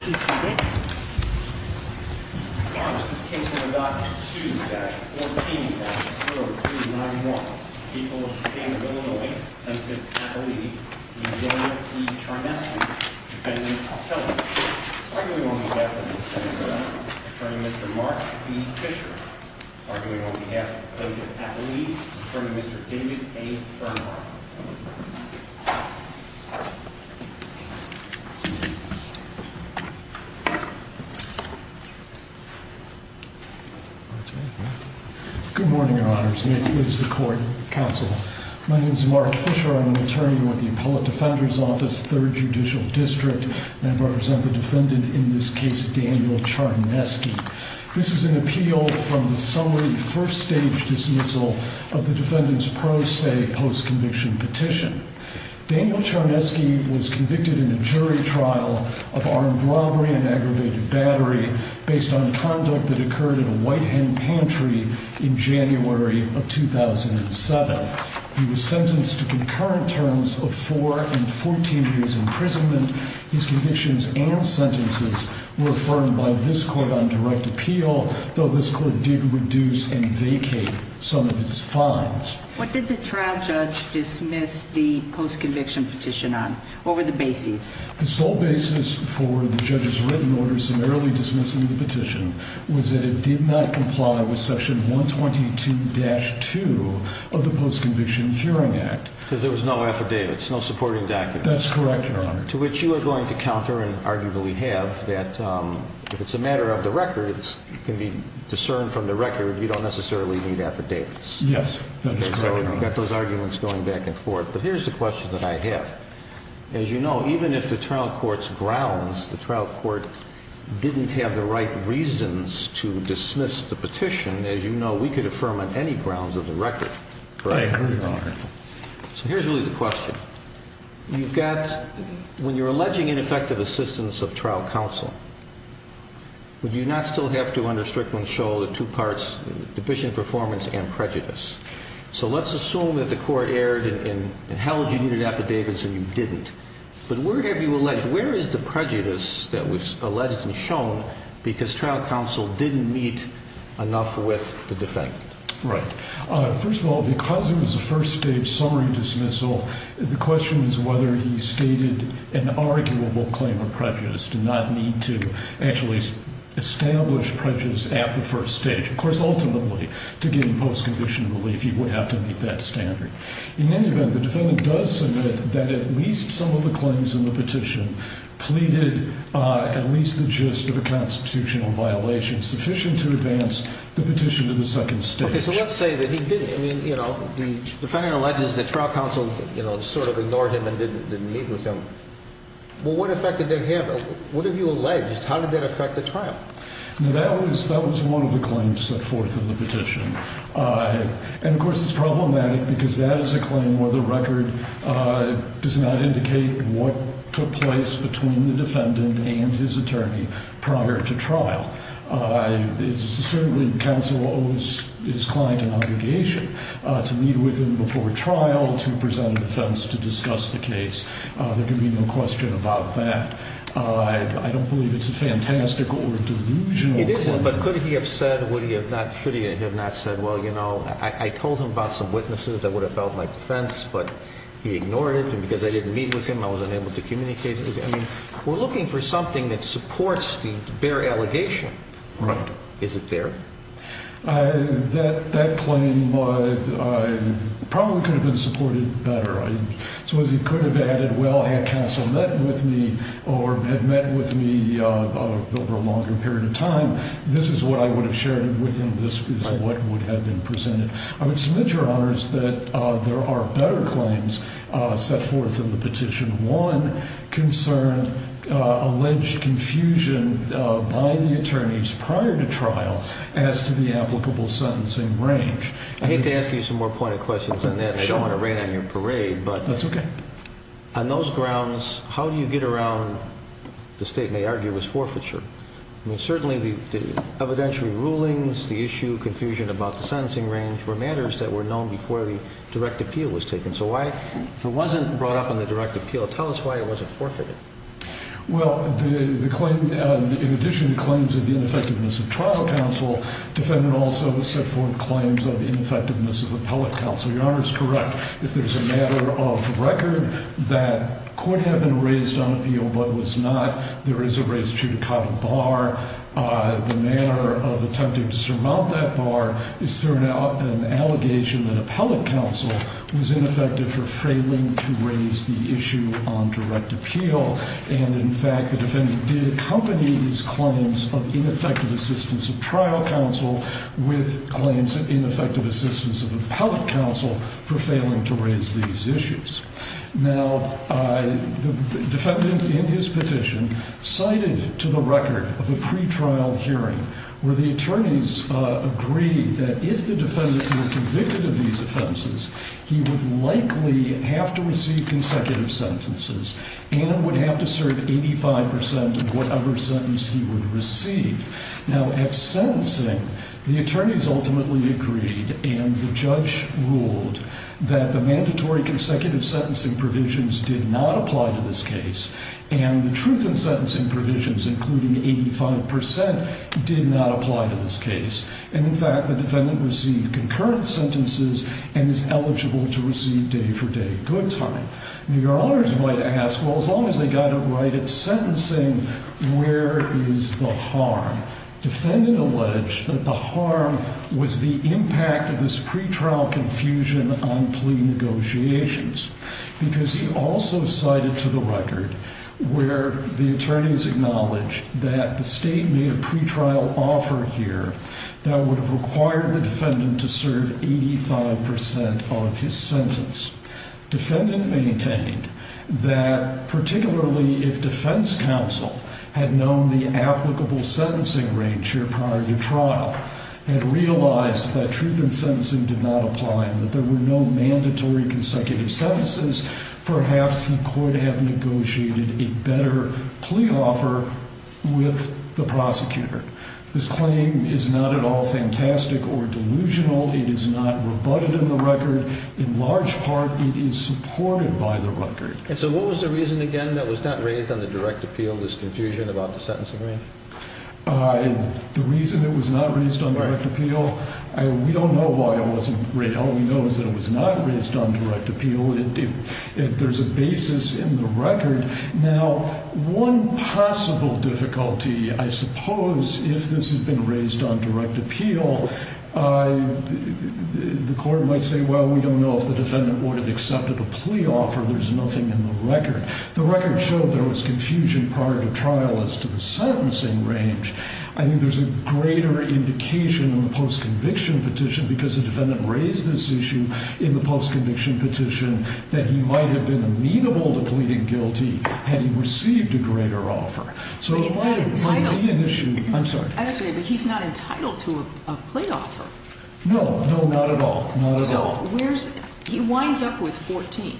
Defendant of Heller, arguing on behalf of the defendant, Attorney Mr. Mark D. Fisher. Arguing on behalf of the plaintiff, Appellee, Attorney Mr. David A. Earnhardt. Good morning, Your Honors. It is the Court Counsel. My name is Mark Fisher. I'm an attorney with the Appellate Defender's Office, 3rd Judicial District. And I represent the defendant in this case, Daniel Charneski. This is an appeal from the summary first stage dismissal of the defendant's pro se post conviction petition. Daniel Charneski was convicted in a jury trial of armed robbery and aggravated battery based on conduct that occurred in a white hen pantry in January of 2007. He was sentenced to concurrent terms of 4 and 14 years imprisonment. His convictions and sentences were affirmed by this Court on direct appeal, though this Court did reduce and vacate some of his fines. What did the trial judge dismiss the post conviction petition on? What were the bases? The sole basis for the judge's written order summarily dismissing the petition was that it did not comply with section 122-2 of the Post Conviction Hearing Act. Because there was no affidavits, no supporting documents. That's correct, Your Honor. To which you are going to counter and arguably have that if it's a matter of the records, it can be discerned from the record, you don't necessarily need affidavits. Yes, that's correct, Your Honor. So you've got those arguments going back and forth. But here's the question that I have. As you know, even if the trial court's grounds, the trial court didn't have the right reasons to dismiss the petition, as you know, we could affirm on any grounds of the record, correct? Yes, Your Honor. So here's really the question. You've got, when you're alleging ineffective assistance of trial counsel, would you not still have to under Strickland show the two parts, deficient performance and prejudice? So let's assume that the court erred and held you needed affidavits and you didn't. But where have you alleged, where is the prejudice that was alleged and shown because trial counsel didn't meet enough with the defendant? Right. First of all, because it was a first-stage summary dismissal, the question is whether he stated an arguable claim of prejudice, did not need to actually establish prejudice at the first stage. Of course, ultimately, to gain post-conviction relief, you would have to meet that standard. In any event, the defendant does submit that at least some of the claims in the petition pleaded at least the gist of a constitutional violation sufficient to advance the petition to the second stage. Okay. So let's say that he didn't. I mean, you know, the defendant alleges that trial counsel sort of ignored him and didn't meet with him. Well, what effect did that have? What have you alleged? How did that affect the trial? Now, that was one of the claims set forth in the petition. And, of course, it's problematic because that is a claim where the record does not indicate what took place between the defendant and his attorney prior to trial. Certainly, counsel owes his client an obligation to meet with him before trial, to present a defense, to discuss the case. There can be no question about that. I don't believe it's a fantastical or delusional claim. It isn't, but could he have said, would he have not, should he have not said, well, you know, I told him about some witnesses that would have felt my defense, but he ignored it. And because I didn't meet with him, I was unable to communicate with him. I mean, we're looking for something that supports the bare allegation. Right. Is it there? That claim probably could have been supported better. So as he could have added, well, had counsel met with me or had met with me over a longer period of time, this is what I would have shared with him. This is what would have been presented. I would submit, Your Honors, that there are better claims set forth in the Petition 1 concerned alleged confusion by the attorneys prior to trial as to the applicable sentencing range. I hate to ask you some more pointed questions on that. I don't want to rain on your parade. That's okay. But on those grounds, how do you get around the state may argue was forfeiture? I mean, certainly the evidentiary rulings, the issue of confusion about the sentencing range were matters that were known before the direct appeal was taken. So if it wasn't brought up on the direct appeal, tell us why it wasn't forfeited. Well, in addition to claims of ineffectiveness of trial counsel, defendant also set forth claims of ineffectiveness of appellate counsel. Your Honor is correct. If there's a matter of record that could have been raised on appeal but was not, there is a raised judicata bar. The manner of attempting to surmount that bar is an allegation that appellate counsel was ineffective for failing to raise the issue on direct appeal. And, in fact, the defendant did accompany these claims of ineffective assistance of trial counsel with claims of ineffective assistance of appellate counsel for failing to raise these issues. Now, the defendant in his petition cited to the record of a pretrial hearing where the attorneys agreed that if the defendant were convicted of these offenses, he would likely have to receive consecutive sentences and would have to serve 85% of whatever sentence he would receive. Now, at sentencing, the attorneys ultimately agreed and the judge ruled that the mandatory consecutive sentencing provisions did not apply to this case and the truth in sentencing provisions, including 85%, did not apply to this case. And, in fact, the defendant received concurrent sentences and is eligible to receive day for day good time. Now, your honors might ask, well, as long as they got it right at sentencing, where is the harm? Defendant alleged that the harm was the impact of this pretrial confusion on plea negotiations because he also cited to the record where the attorneys acknowledged that the state made a pretrial offer here that would have required the defendant to serve 85% of his sentence. Defendant maintained that particularly if defense counsel had known the applicable sentencing range here prior to trial and realized that truth in sentencing did not apply and that there were no mandatory consecutive sentences, perhaps he could have negotiated a better plea offer with the prosecutor. This claim is not at all fantastic or delusional. It is not rebutted in the record. In large part, it is supported by the record. And so what was the reason, again, that was not raised on the direct appeal, this confusion about the sentencing range? The reason it was not raised on direct appeal, we don't know why it wasn't raised. All we know is that it was not raised on direct appeal. There's a basis in the record. Now, one possible difficulty, I suppose, if this had been raised on direct appeal, the court might say, well, we don't know if the defendant would have accepted a plea offer. There's nothing in the record. The record showed there was confusion prior to trial as to the sentencing range. I think there's a greater indication in the post-conviction petition because the defendant raised this issue in the post-conviction petition that he might have been amenable to pleading guilty had he received a greater offer. But he's not entitled to a plea offer. No, no, not at all, not at all. So he winds up with 14.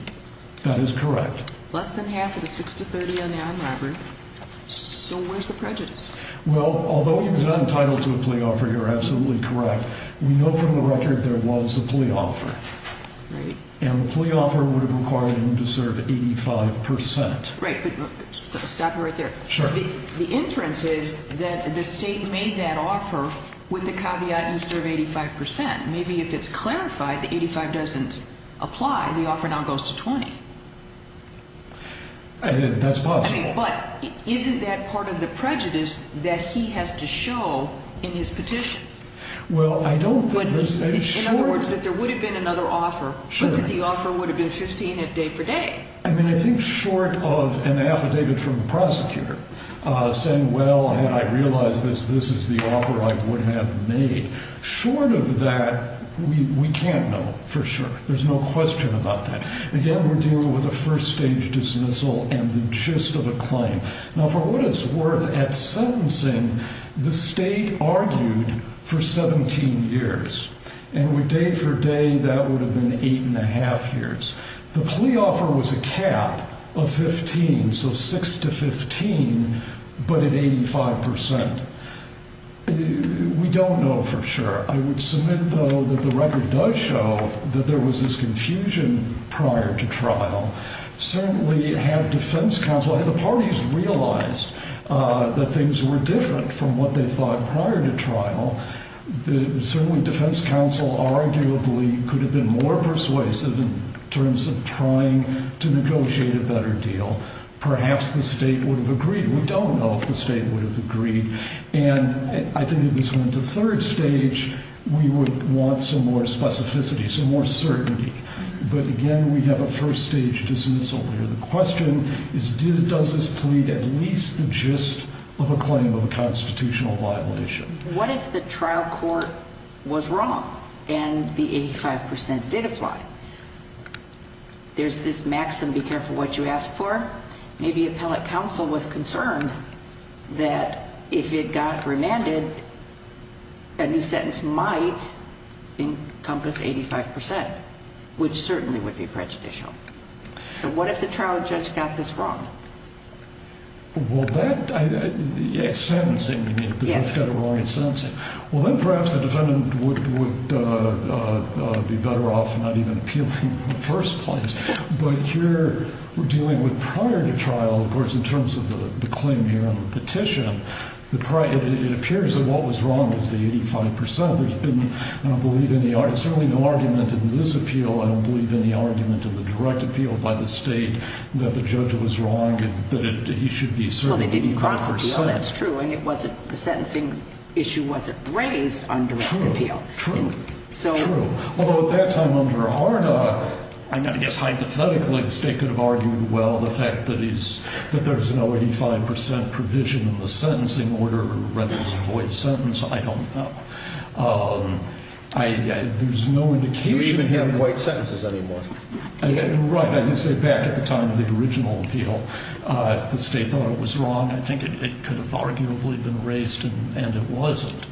That is correct. Less than half of the 6 to 30 on the armed robbery. So where's the prejudice? Well, although he was not entitled to a plea offer, you're absolutely correct. We know from the record there was a plea offer. And the plea offer would have required him to serve 85%. Right, but stop it right there. The inference is that the state made that offer with the caveat you serve 85%. Maybe if it's clarified that 85% doesn't apply, the offer now goes to 20%. That's possible. But isn't that part of the prejudice that he has to show in his petition? Well, I don't think there's any short of it. In other words, that there would have been another offer, but that the offer would have been 15 day for day. I mean, I think short of an affidavit from the prosecutor saying, well, had I realized this, this is the offer I would have made. Short of that, we can't know for sure. There's no question about that. Again, we're dealing with a first-stage dismissal and the gist of a claim. Now, for what it's worth, at sentencing, the state argued for 17 years. And with day for day, that would have been 8 1⁄2 years. The plea offer was a cap of 15, so 6 to 15, but at 85%. We don't know for sure. I would submit, though, that the record does show that there was this confusion prior to trial. Certainly had defense counsel, had the parties realized that things were different from what they thought prior to trial, certainly defense counsel arguably could have been more persuasive in terms of trying to negotiate a better deal. Perhaps the state would have agreed. We don't know if the state would have agreed. And I think if this went to third stage, we would want some more specificity, some more certainty. But again, we have a first-stage dismissal here. The question is, does this plead at least the gist of a claim of a constitutional violation? What if the trial court was wrong and the 85% did apply? There's this maxim, be careful what you ask for. Maybe appellate counsel was concerned that if it got remanded, a new sentence might encompass 85%, which certainly would be prejudicial. So what if the trial judge got this wrong? Well, that, sentencing, you mean, the judge got it wrong in sentencing. Well, then perhaps the defendant would be better off not even appealing in the first place. But here we're dealing with prior to trial, of course, in terms of the claim here on the petition. It appears that what was wrong was the 85%. There's been, I don't believe any argument, certainly no argument in this appeal, I don't believe any argument in the direct appeal by the state that the judge was wrong and that he should be served 85%. Well, they didn't cross the field. That's true. And it wasn't, the sentencing issue wasn't raised on direct appeal. True, true, true. I guess hypothetically the state could have argued, well, the fact that he's, that there's no 85% provision in the sentencing order, whether it's a void sentence, I don't know. There's no indication. You don't even hear of void sentences anymore. Right, I did say back at the time of the original appeal, if the state thought it was wrong, I think it could have arguably been raised and it wasn't.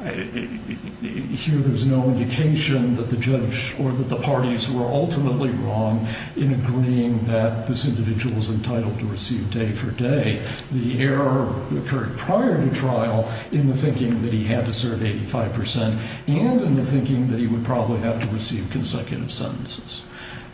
Here there's no indication that the judge or that the parties were ultimately wrong in agreeing that this individual was entitled to receive day for day. The error occurred prior to trial in the thinking that he had to serve 85% and in the thinking that he would probably have to receive consecutive sentences.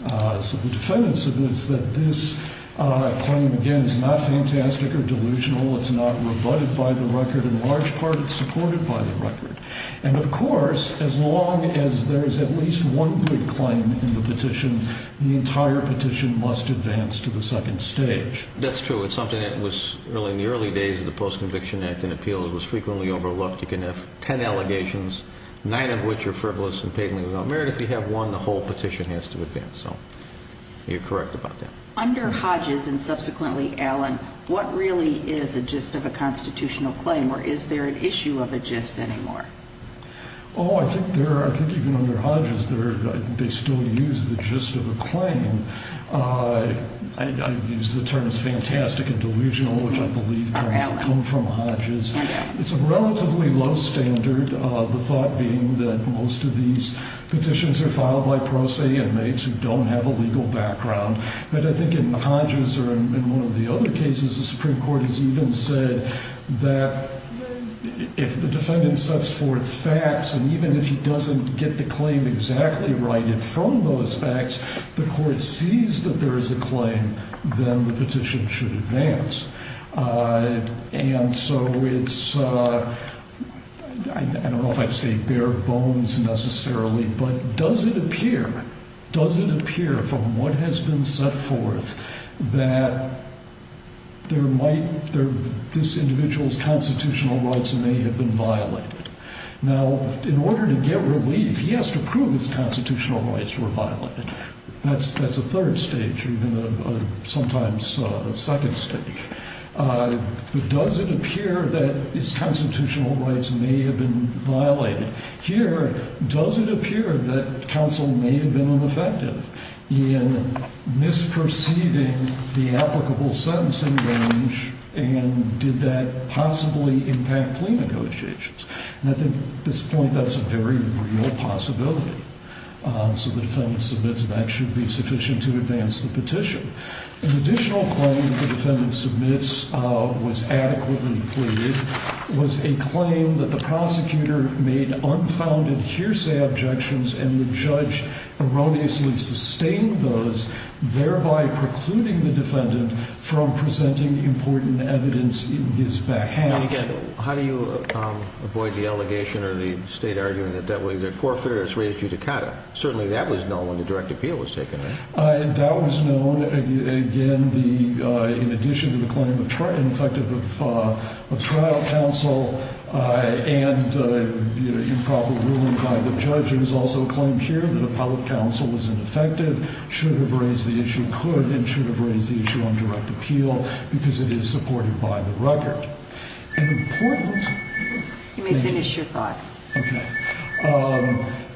So the defense is that this claim, again, is not fantastic or delusional. It's not rebutted by the record. In large part, it's supported by the record. And, of course, as long as there is at least one good claim in the petition, the entire petition must advance to the second stage. That's true. It's something that was, in the early days of the Post-Conviction Act and appeals, was frequently overlooked. You can have ten allegations, nine of which are frivolous and paving the way. If you have one, the whole petition has to advance. So you're correct about that. Under Hodges and subsequently Allen, what really is a gist of a constitutional claim or is there an issue of a gist anymore? Oh, I think even under Hodges, they still use the gist of a claim. I use the terms fantastic and delusional, which I believe come from Hodges. It's a relatively low standard, the thought being that most of these petitions are filed by pro se inmates who don't have a legal background. But I think in Hodges or in one of the other cases, the Supreme Court has even said that if the defendant sets forth facts, and even if he doesn't get the claim exactly righted from those facts, the court sees that there is a claim, then the petition should advance. And so it's, I don't know if I'd say bare bones necessarily, but does it appear, does it appear from what has been set forth that this individual's constitutional rights may have been violated? Now, in order to get relief, he has to prove his constitutional rights were violated. That's a third stage, even sometimes a second stage. But does it appear that his constitutional rights may have been violated? Here, does it appear that counsel may have been ineffective in misperceiving the applicable sentencing range and did that possibly impact plea negotiations? And I think at this point that's a very real possibility. So the defendant submits and that should be sufficient to advance the petition. An additional claim the defendant submits was adequately pleaded, was a claim that the prosecutor made unfounded hearsay objections and the judge erroneously sustained those, thereby precluding the defendant from presenting important evidence in his behalf. And again, how do you avoid the allegation or the state arguing that that was a forfeiture? It's raised judicata. Certainly that was known when the direct appeal was taken. That was known, again, in addition to the claim of ineffective trial counsel and improper ruling by the judge. There was also a claim here that appellate counsel was ineffective, should have raised the issue, and could and should have raised the issue on direct appeal because it is supported by the record. An important- You may finish your thought. Okay.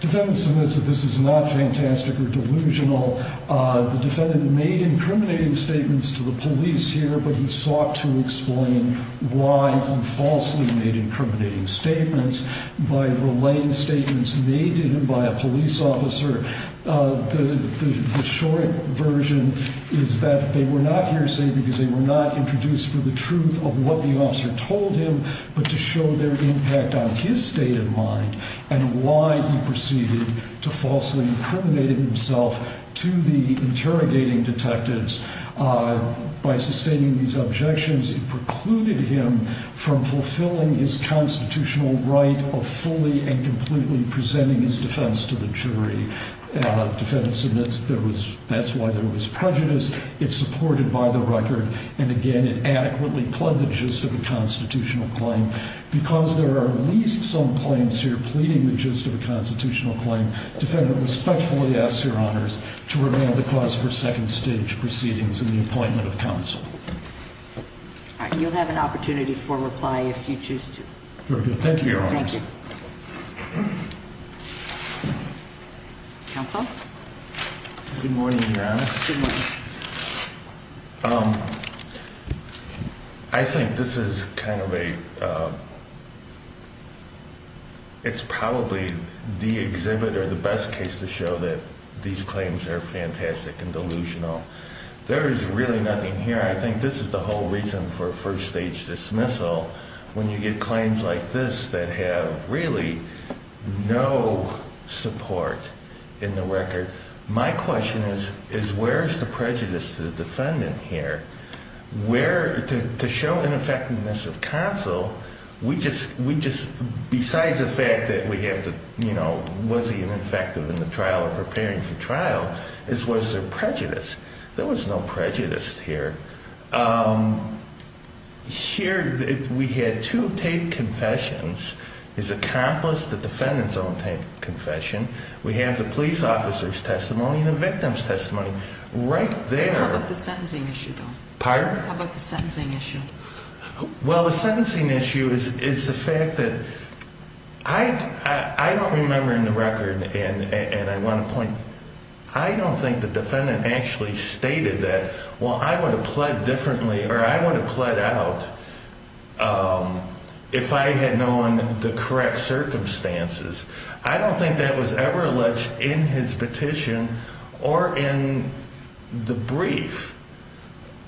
Defendant submits that this is not fantastic or delusional. The defendant made incriminating statements to the police here, but he sought to explain why he falsely made incriminating statements by relaying statements made to him by a police officer. The short version is that they were not hearsay because they were not introduced for the truth of what the officer told him, but to show their impact on his state of mind and why he proceeded to falsely incriminate himself to the interrogating detectives. By sustaining these objections, it precluded him from fulfilling his constitutional right of fully and completely presenting his defense to the jury. Defendant submits that's why there was prejudice. It's supported by the record, and, again, it adequately pled the gist of a constitutional claim. Because there are at least some claims here pleading the gist of a constitutional claim, defendant respectfully asks Your Honors to remand the cause for second-stage proceedings in the appointment of counsel. All right. You'll have an opportunity for reply if you choose to. Very good. Thank you, Your Honors. Thank you. Counsel? Good morning, Your Honor. Good morning. I think this is kind of a ‑‑ it's probably the exhibit or the best case to show that these claims are fantastic and delusional. There is really nothing here. I think this is the whole reason for a first-stage dismissal, when you get claims like this that have really no support in the record. My question is, where is the prejudice to the defendant here? To show ineffectiveness of counsel, besides the fact that we have to, you know, was he ineffective in the trial or preparing for trial, is was there prejudice? There was no prejudice here. Here we had two taped confessions. There's accomplice, the defendant's own taped confession. We have the police officer's testimony and the victim's testimony. Right there. How about the sentencing issue, though? Pardon? How about the sentencing issue? Well, the sentencing issue is the fact that I don't remember in the record, and I want to point, I don't think the defendant actually stated that, well, I would have pled differently or I would have pled out if I had known the correct circumstances. I don't think that was ever alleged in his petition or in the brief.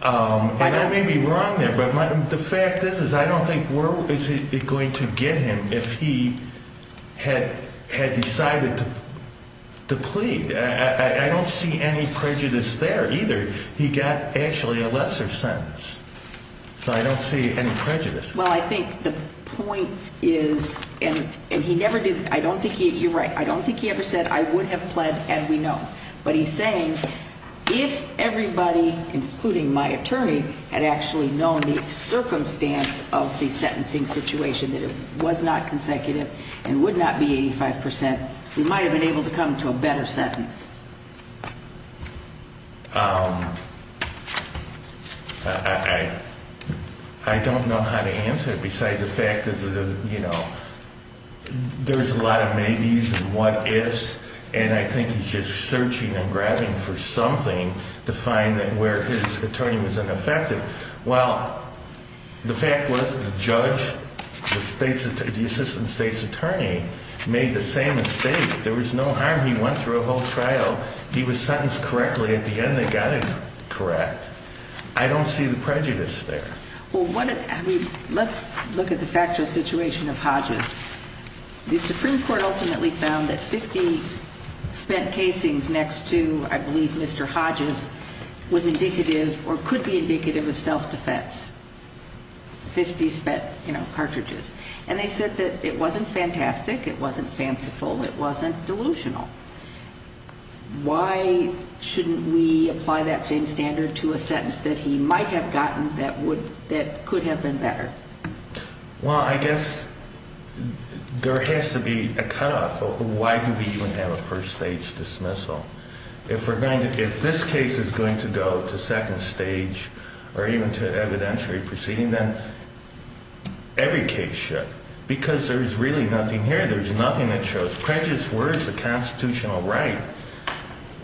And I may be wrong there, but the fact is I don't think where is it going to get him if he had decided to plead? I don't see any prejudice there either. He got actually a lesser sentence. So I don't see any prejudice. Well, I think the point is, and he never did, I don't think he, you're right, I don't think he ever said I would have pled and we know. But he's saying if everybody, including my attorney, had actually known the circumstance of the sentencing situation, that it was not consecutive and would not be 85%, we might have been able to come to a better sentence. I don't know how to answer it besides the fact that, you know, there's a lot of maybes and what ifs, and I think he's just searching and grabbing for something to find where his attorney was ineffective. Well, the fact was the judge, the assistant state's attorney, made the same mistake. There was no harm. He went through a whole trial. He was sentenced correctly. At the end, they got him correct. I don't see the prejudice there. Well, let's look at the factual situation of Hodges. The Supreme Court ultimately found that 50 spent casings next to, I believe, Mr. Hodges, was indicative or could be indicative of self-defense, 50 spent cartridges. And they said that it wasn't fantastic. It wasn't fanciful. It wasn't delusional. Why shouldn't we apply that same standard to a sentence that he might have gotten that could have been better? Well, I guess there has to be a cutoff. Why do we even have a first-stage dismissal? If this case is going to go to second stage or even to evidentiary proceeding, then every case should Because there's really nothing here. There's nothing that shows prejudice. Where is the constitutional right?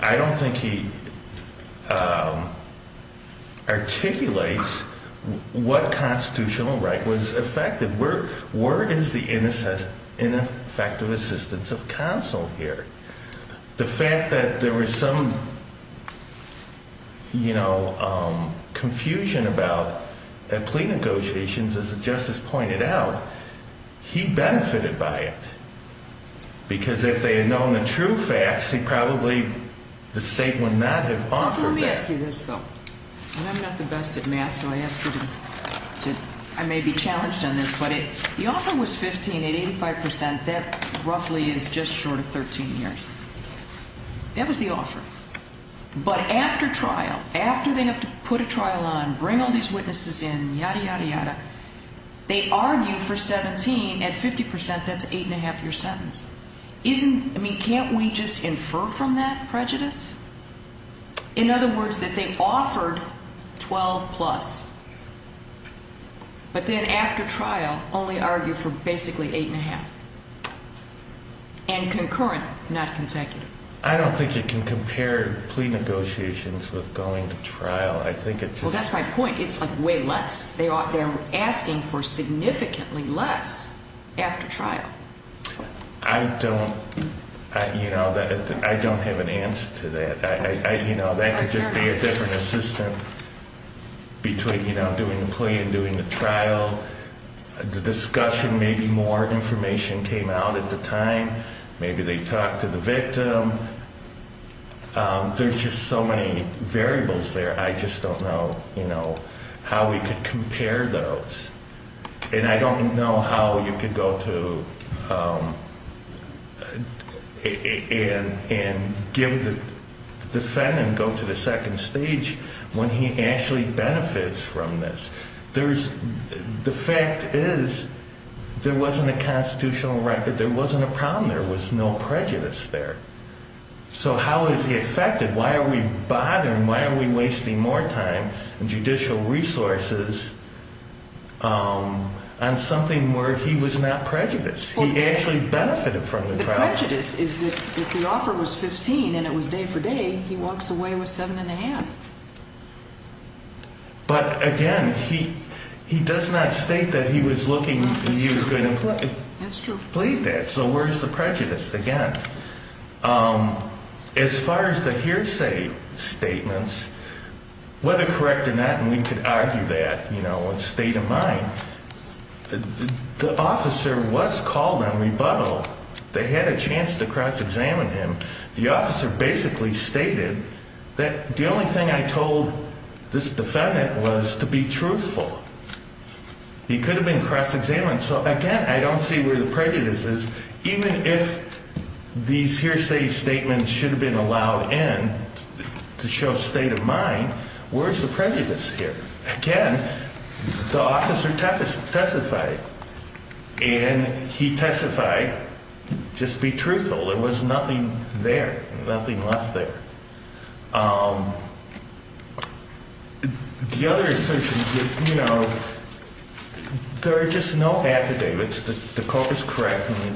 I don't think he articulates what constitutional right was effective. Where is the ineffective assistance of counsel here? The fact that there was some, you know, confusion about plea negotiations, as the justice pointed out, he benefited by it. Because if they had known the true facts, he probably, the state would not have offered that. Let me ask you this, though. I'm not the best at math, so I ask you to, I may be challenged on this, but if the offer was 15 at 85 percent, that roughly is just short of 13 years. That was the offer. But after trial, after they have to put a trial on, bring all these witnesses in, yada, yada, yada, they argue for 17 at 50 percent, that's an eight-and-a-half-year sentence. I mean, can't we just infer from that prejudice? In other words, that they offered 12 plus. But then after trial, only argue for basically eight-and-a-half. And concurrent, not consecutive. I don't think you can compare plea negotiations with going to trial. I think it's just... Well, that's my point. It's, like, way less. They're asking for significantly less after trial. I don't, you know, I don't have an answer to that. You know, that could just be a different assistant between, you know, doing the plea and doing the trial. The discussion, maybe more information came out at the time. Maybe they talked to the victim. There's just so many variables there. I just don't know, you know, how we could compare those. And I don't know how you could go to and give the defendant, go to the second stage when he actually benefits from this. The fact is, there wasn't a constitutional right, there wasn't a problem. There was no prejudice there. So how is he affected? Why are we bothering? Why are we wasting more time and judicial resources on something where he was not prejudiced? He actually benefited from the trial. The prejudice is that if the offer was 15 and it was day for day, he walks away with 7 1⁄2. But, again, he does not state that he was looking and he was going to plead that. So where is the prejudice? Again, as far as the hearsay statements, whether correct or not, and we could argue that, you know, state of mind, the officer was called on rebuttal. They had a chance to cross-examine him. The officer basically stated that the only thing I told this defendant was to be truthful. He could have been cross-examined. So, again, I don't see where the prejudice is. Even if these hearsay statements should have been allowed in to show state of mind, where is the prejudice here? Again, the officer testified, and he testified just to be truthful. There was nothing there, nothing left there. The other assertion is that, you know, there are just no affidavits. The court was correct when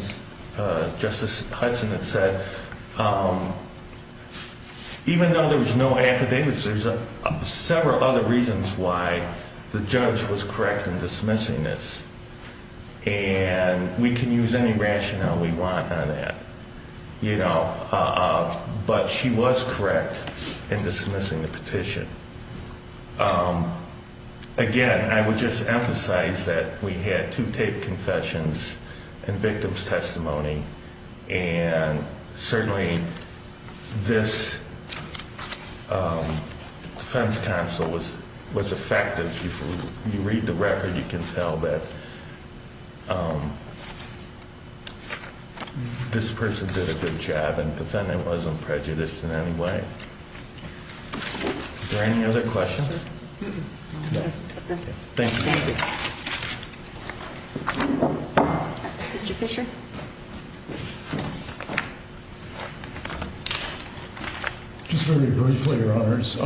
Justice Hudson had said, even though there was no affidavits, there's several other reasons why the judge was correct in dismissing this. And we can use any rationale we want on that. But she was correct in dismissing the petition. Again, I would just emphasize that we had two taped confessions and victim's testimony. And certainly this defense counsel was effective. If you read the record, you can tell that this person did a good job. And the defendant wasn't prejudiced in any way. Are there any other questions? No. Thank you. Mr. Fisher. Just very briefly, Your Honors.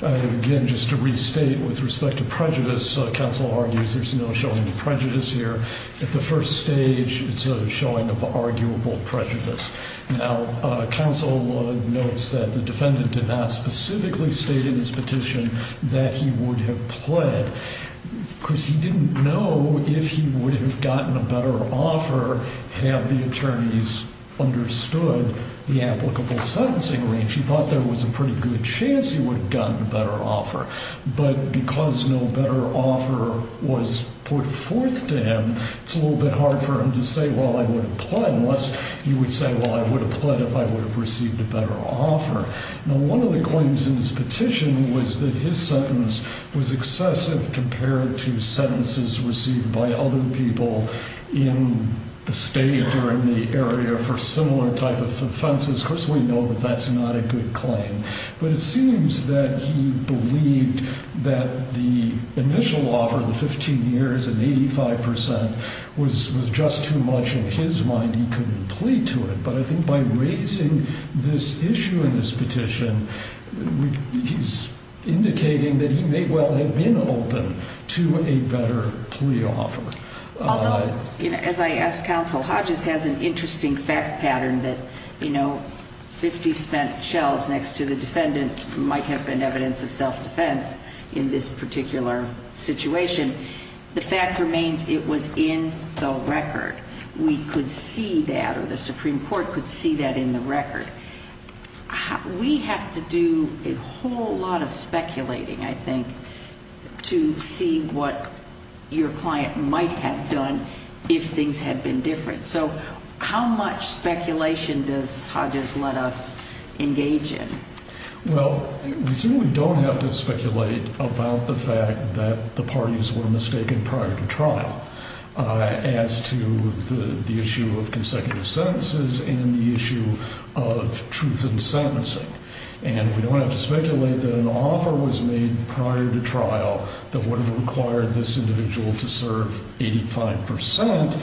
Again, just to restate with respect to prejudice, counsel argues there's no showing of prejudice here. At the first stage, it's a showing of arguable prejudice. Now, counsel notes that the defendant did not specifically state in his petition that he would have pled. Of course, he didn't know if he would have gotten a better offer had the attorneys understood the applicable sentencing range. He thought there was a pretty good chance he would have gotten a better offer. But because no better offer was put forth to him, it's a little bit hard for him to say, well, I would have pled, unless he would say, well, I would have pled if I would have received a better offer. Now, one of the claims in his petition was that his sentence was excessive compared to sentences received by other people in the state or in the area for similar type of offenses. Of course, we know that that's not a good claim. But it seems that he believed that the initial offer, the 15 years and 85 percent, was just too much in his mind. He couldn't plead to it. But I think by raising this issue in this petition, he's indicating that he may well have been open to a better plea offer. Although, as I asked counsel, Hodges has an interesting fact pattern that, you know, 50 spent shells next to the defendant might have been evidence of self-defense in this particular situation. The fact remains it was in the record. We could see that, or the Supreme Court could see that in the record. We have to do a whole lot of speculating, I think, to see what your client might have done if things had been different. So how much speculation does Hodges let us engage in? Well, we certainly don't have to speculate about the fact that the parties were mistaken prior to trial as to the issue of consecutive sentences and the issue of truth in sentencing. And we don't have to speculate that an offer was made prior to trial that would have required this individual to serve 85 percent.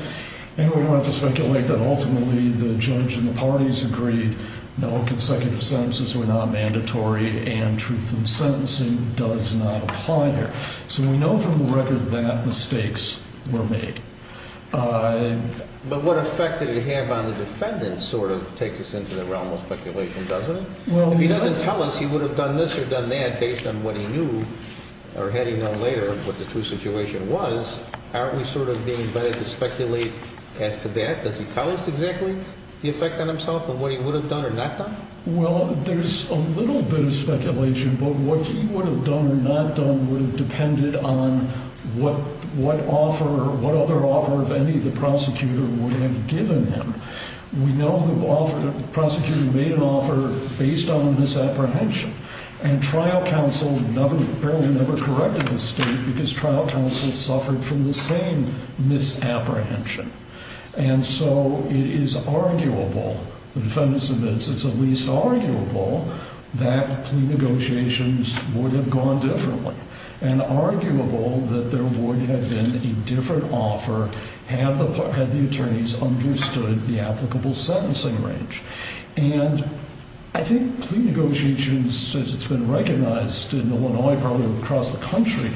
And we don't have to speculate that ultimately the judge and the parties agreed no, consecutive sentences were not mandatory and truth in sentencing does not apply here. So we know from the record that mistakes were made. But what effect did it have on the defendant sort of takes us into the realm of speculation, doesn't it? If he doesn't tell us he would have done this or done that based on what he knew or had he known later what the true situation was, aren't we sort of being invited to speculate as to that? Does he tell us exactly the effect on himself on what he would have done or not done? Well, there's a little bit of speculation, but what he would have done or not done would have depended on what offer or what other offer of any of the prosecutor would have given him. We know the prosecutor made an offer based on misapprehension. And trial counsel never, barely never corrected the state because trial counsel suffered from the same misapprehension. And so it is arguable, the defendant admits it's at least arguable, that plea negotiations would have gone differently. And arguable that there would have been a different offer had the attorneys understood the applicable sentencing range. And I think plea negotiations, as it's been recognized in Illinois, probably across the country,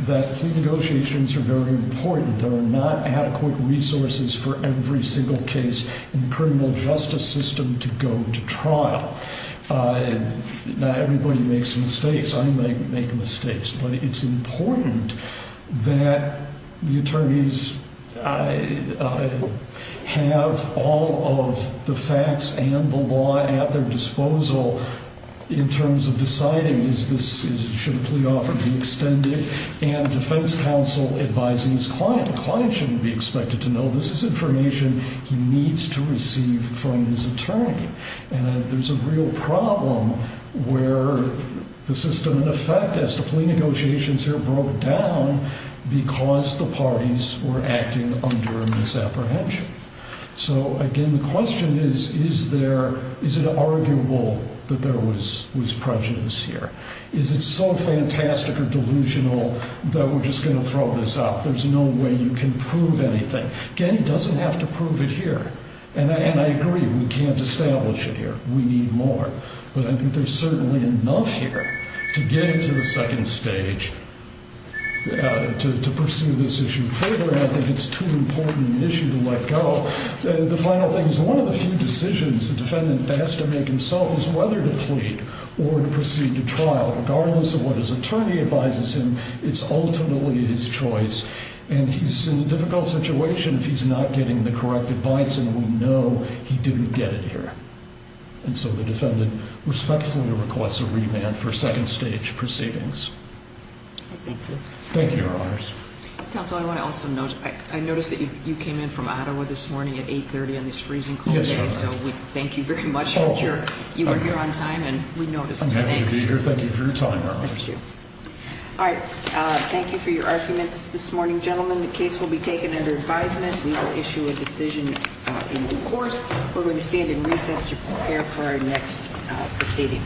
that plea negotiations are very important. There are not adequate resources for every single case in the criminal justice system to go to trial. Not everybody makes mistakes. I make mistakes. But it's important that the attorneys have all of the facts and the law at their disposal in terms of deciding, is this, should a plea offer be extended? And defense counsel advising his client. The client shouldn't be expected to know this is information he needs to receive from his attorney. And there's a real problem where the system in effect as to plea negotiations here broke down because the parties were acting under misapprehension. So, again, the question is, is there, is it arguable that there was prejudice here? Is it so fantastic or delusional that we're just going to throw this out? There's no way you can prove anything. Again, he doesn't have to prove it here. And I agree, we can't establish it here. We need more. But I think there's certainly enough here to get him to the second stage to pursue this issue further, and I think it's too important an issue to let go. The final thing is one of the few decisions the defendant has to make himself is whether to plead or to proceed to trial. Regardless of what his attorney advises him, it's ultimately his choice. And he's in a difficult situation if he's not getting the correct advice, and we know he didn't get it here. And so the defendant respectfully requests a remand for second stage proceedings. Thank you. Thank you, Your Honors. Counsel, I want to also note, I noticed that you came in from Ottawa this morning at 8.30 on this freezing cold day. Yes, Your Honor. So we thank you very much for your, you were here on time and we noticed. I'm happy to be here. Thank you for your time, Your Honors. Thank you. All right. Thank you for your arguments this morning, gentlemen. The case will be taken under advisement. We will issue a decision in due course. We're going to stand in recess to prepare for our next proceeding.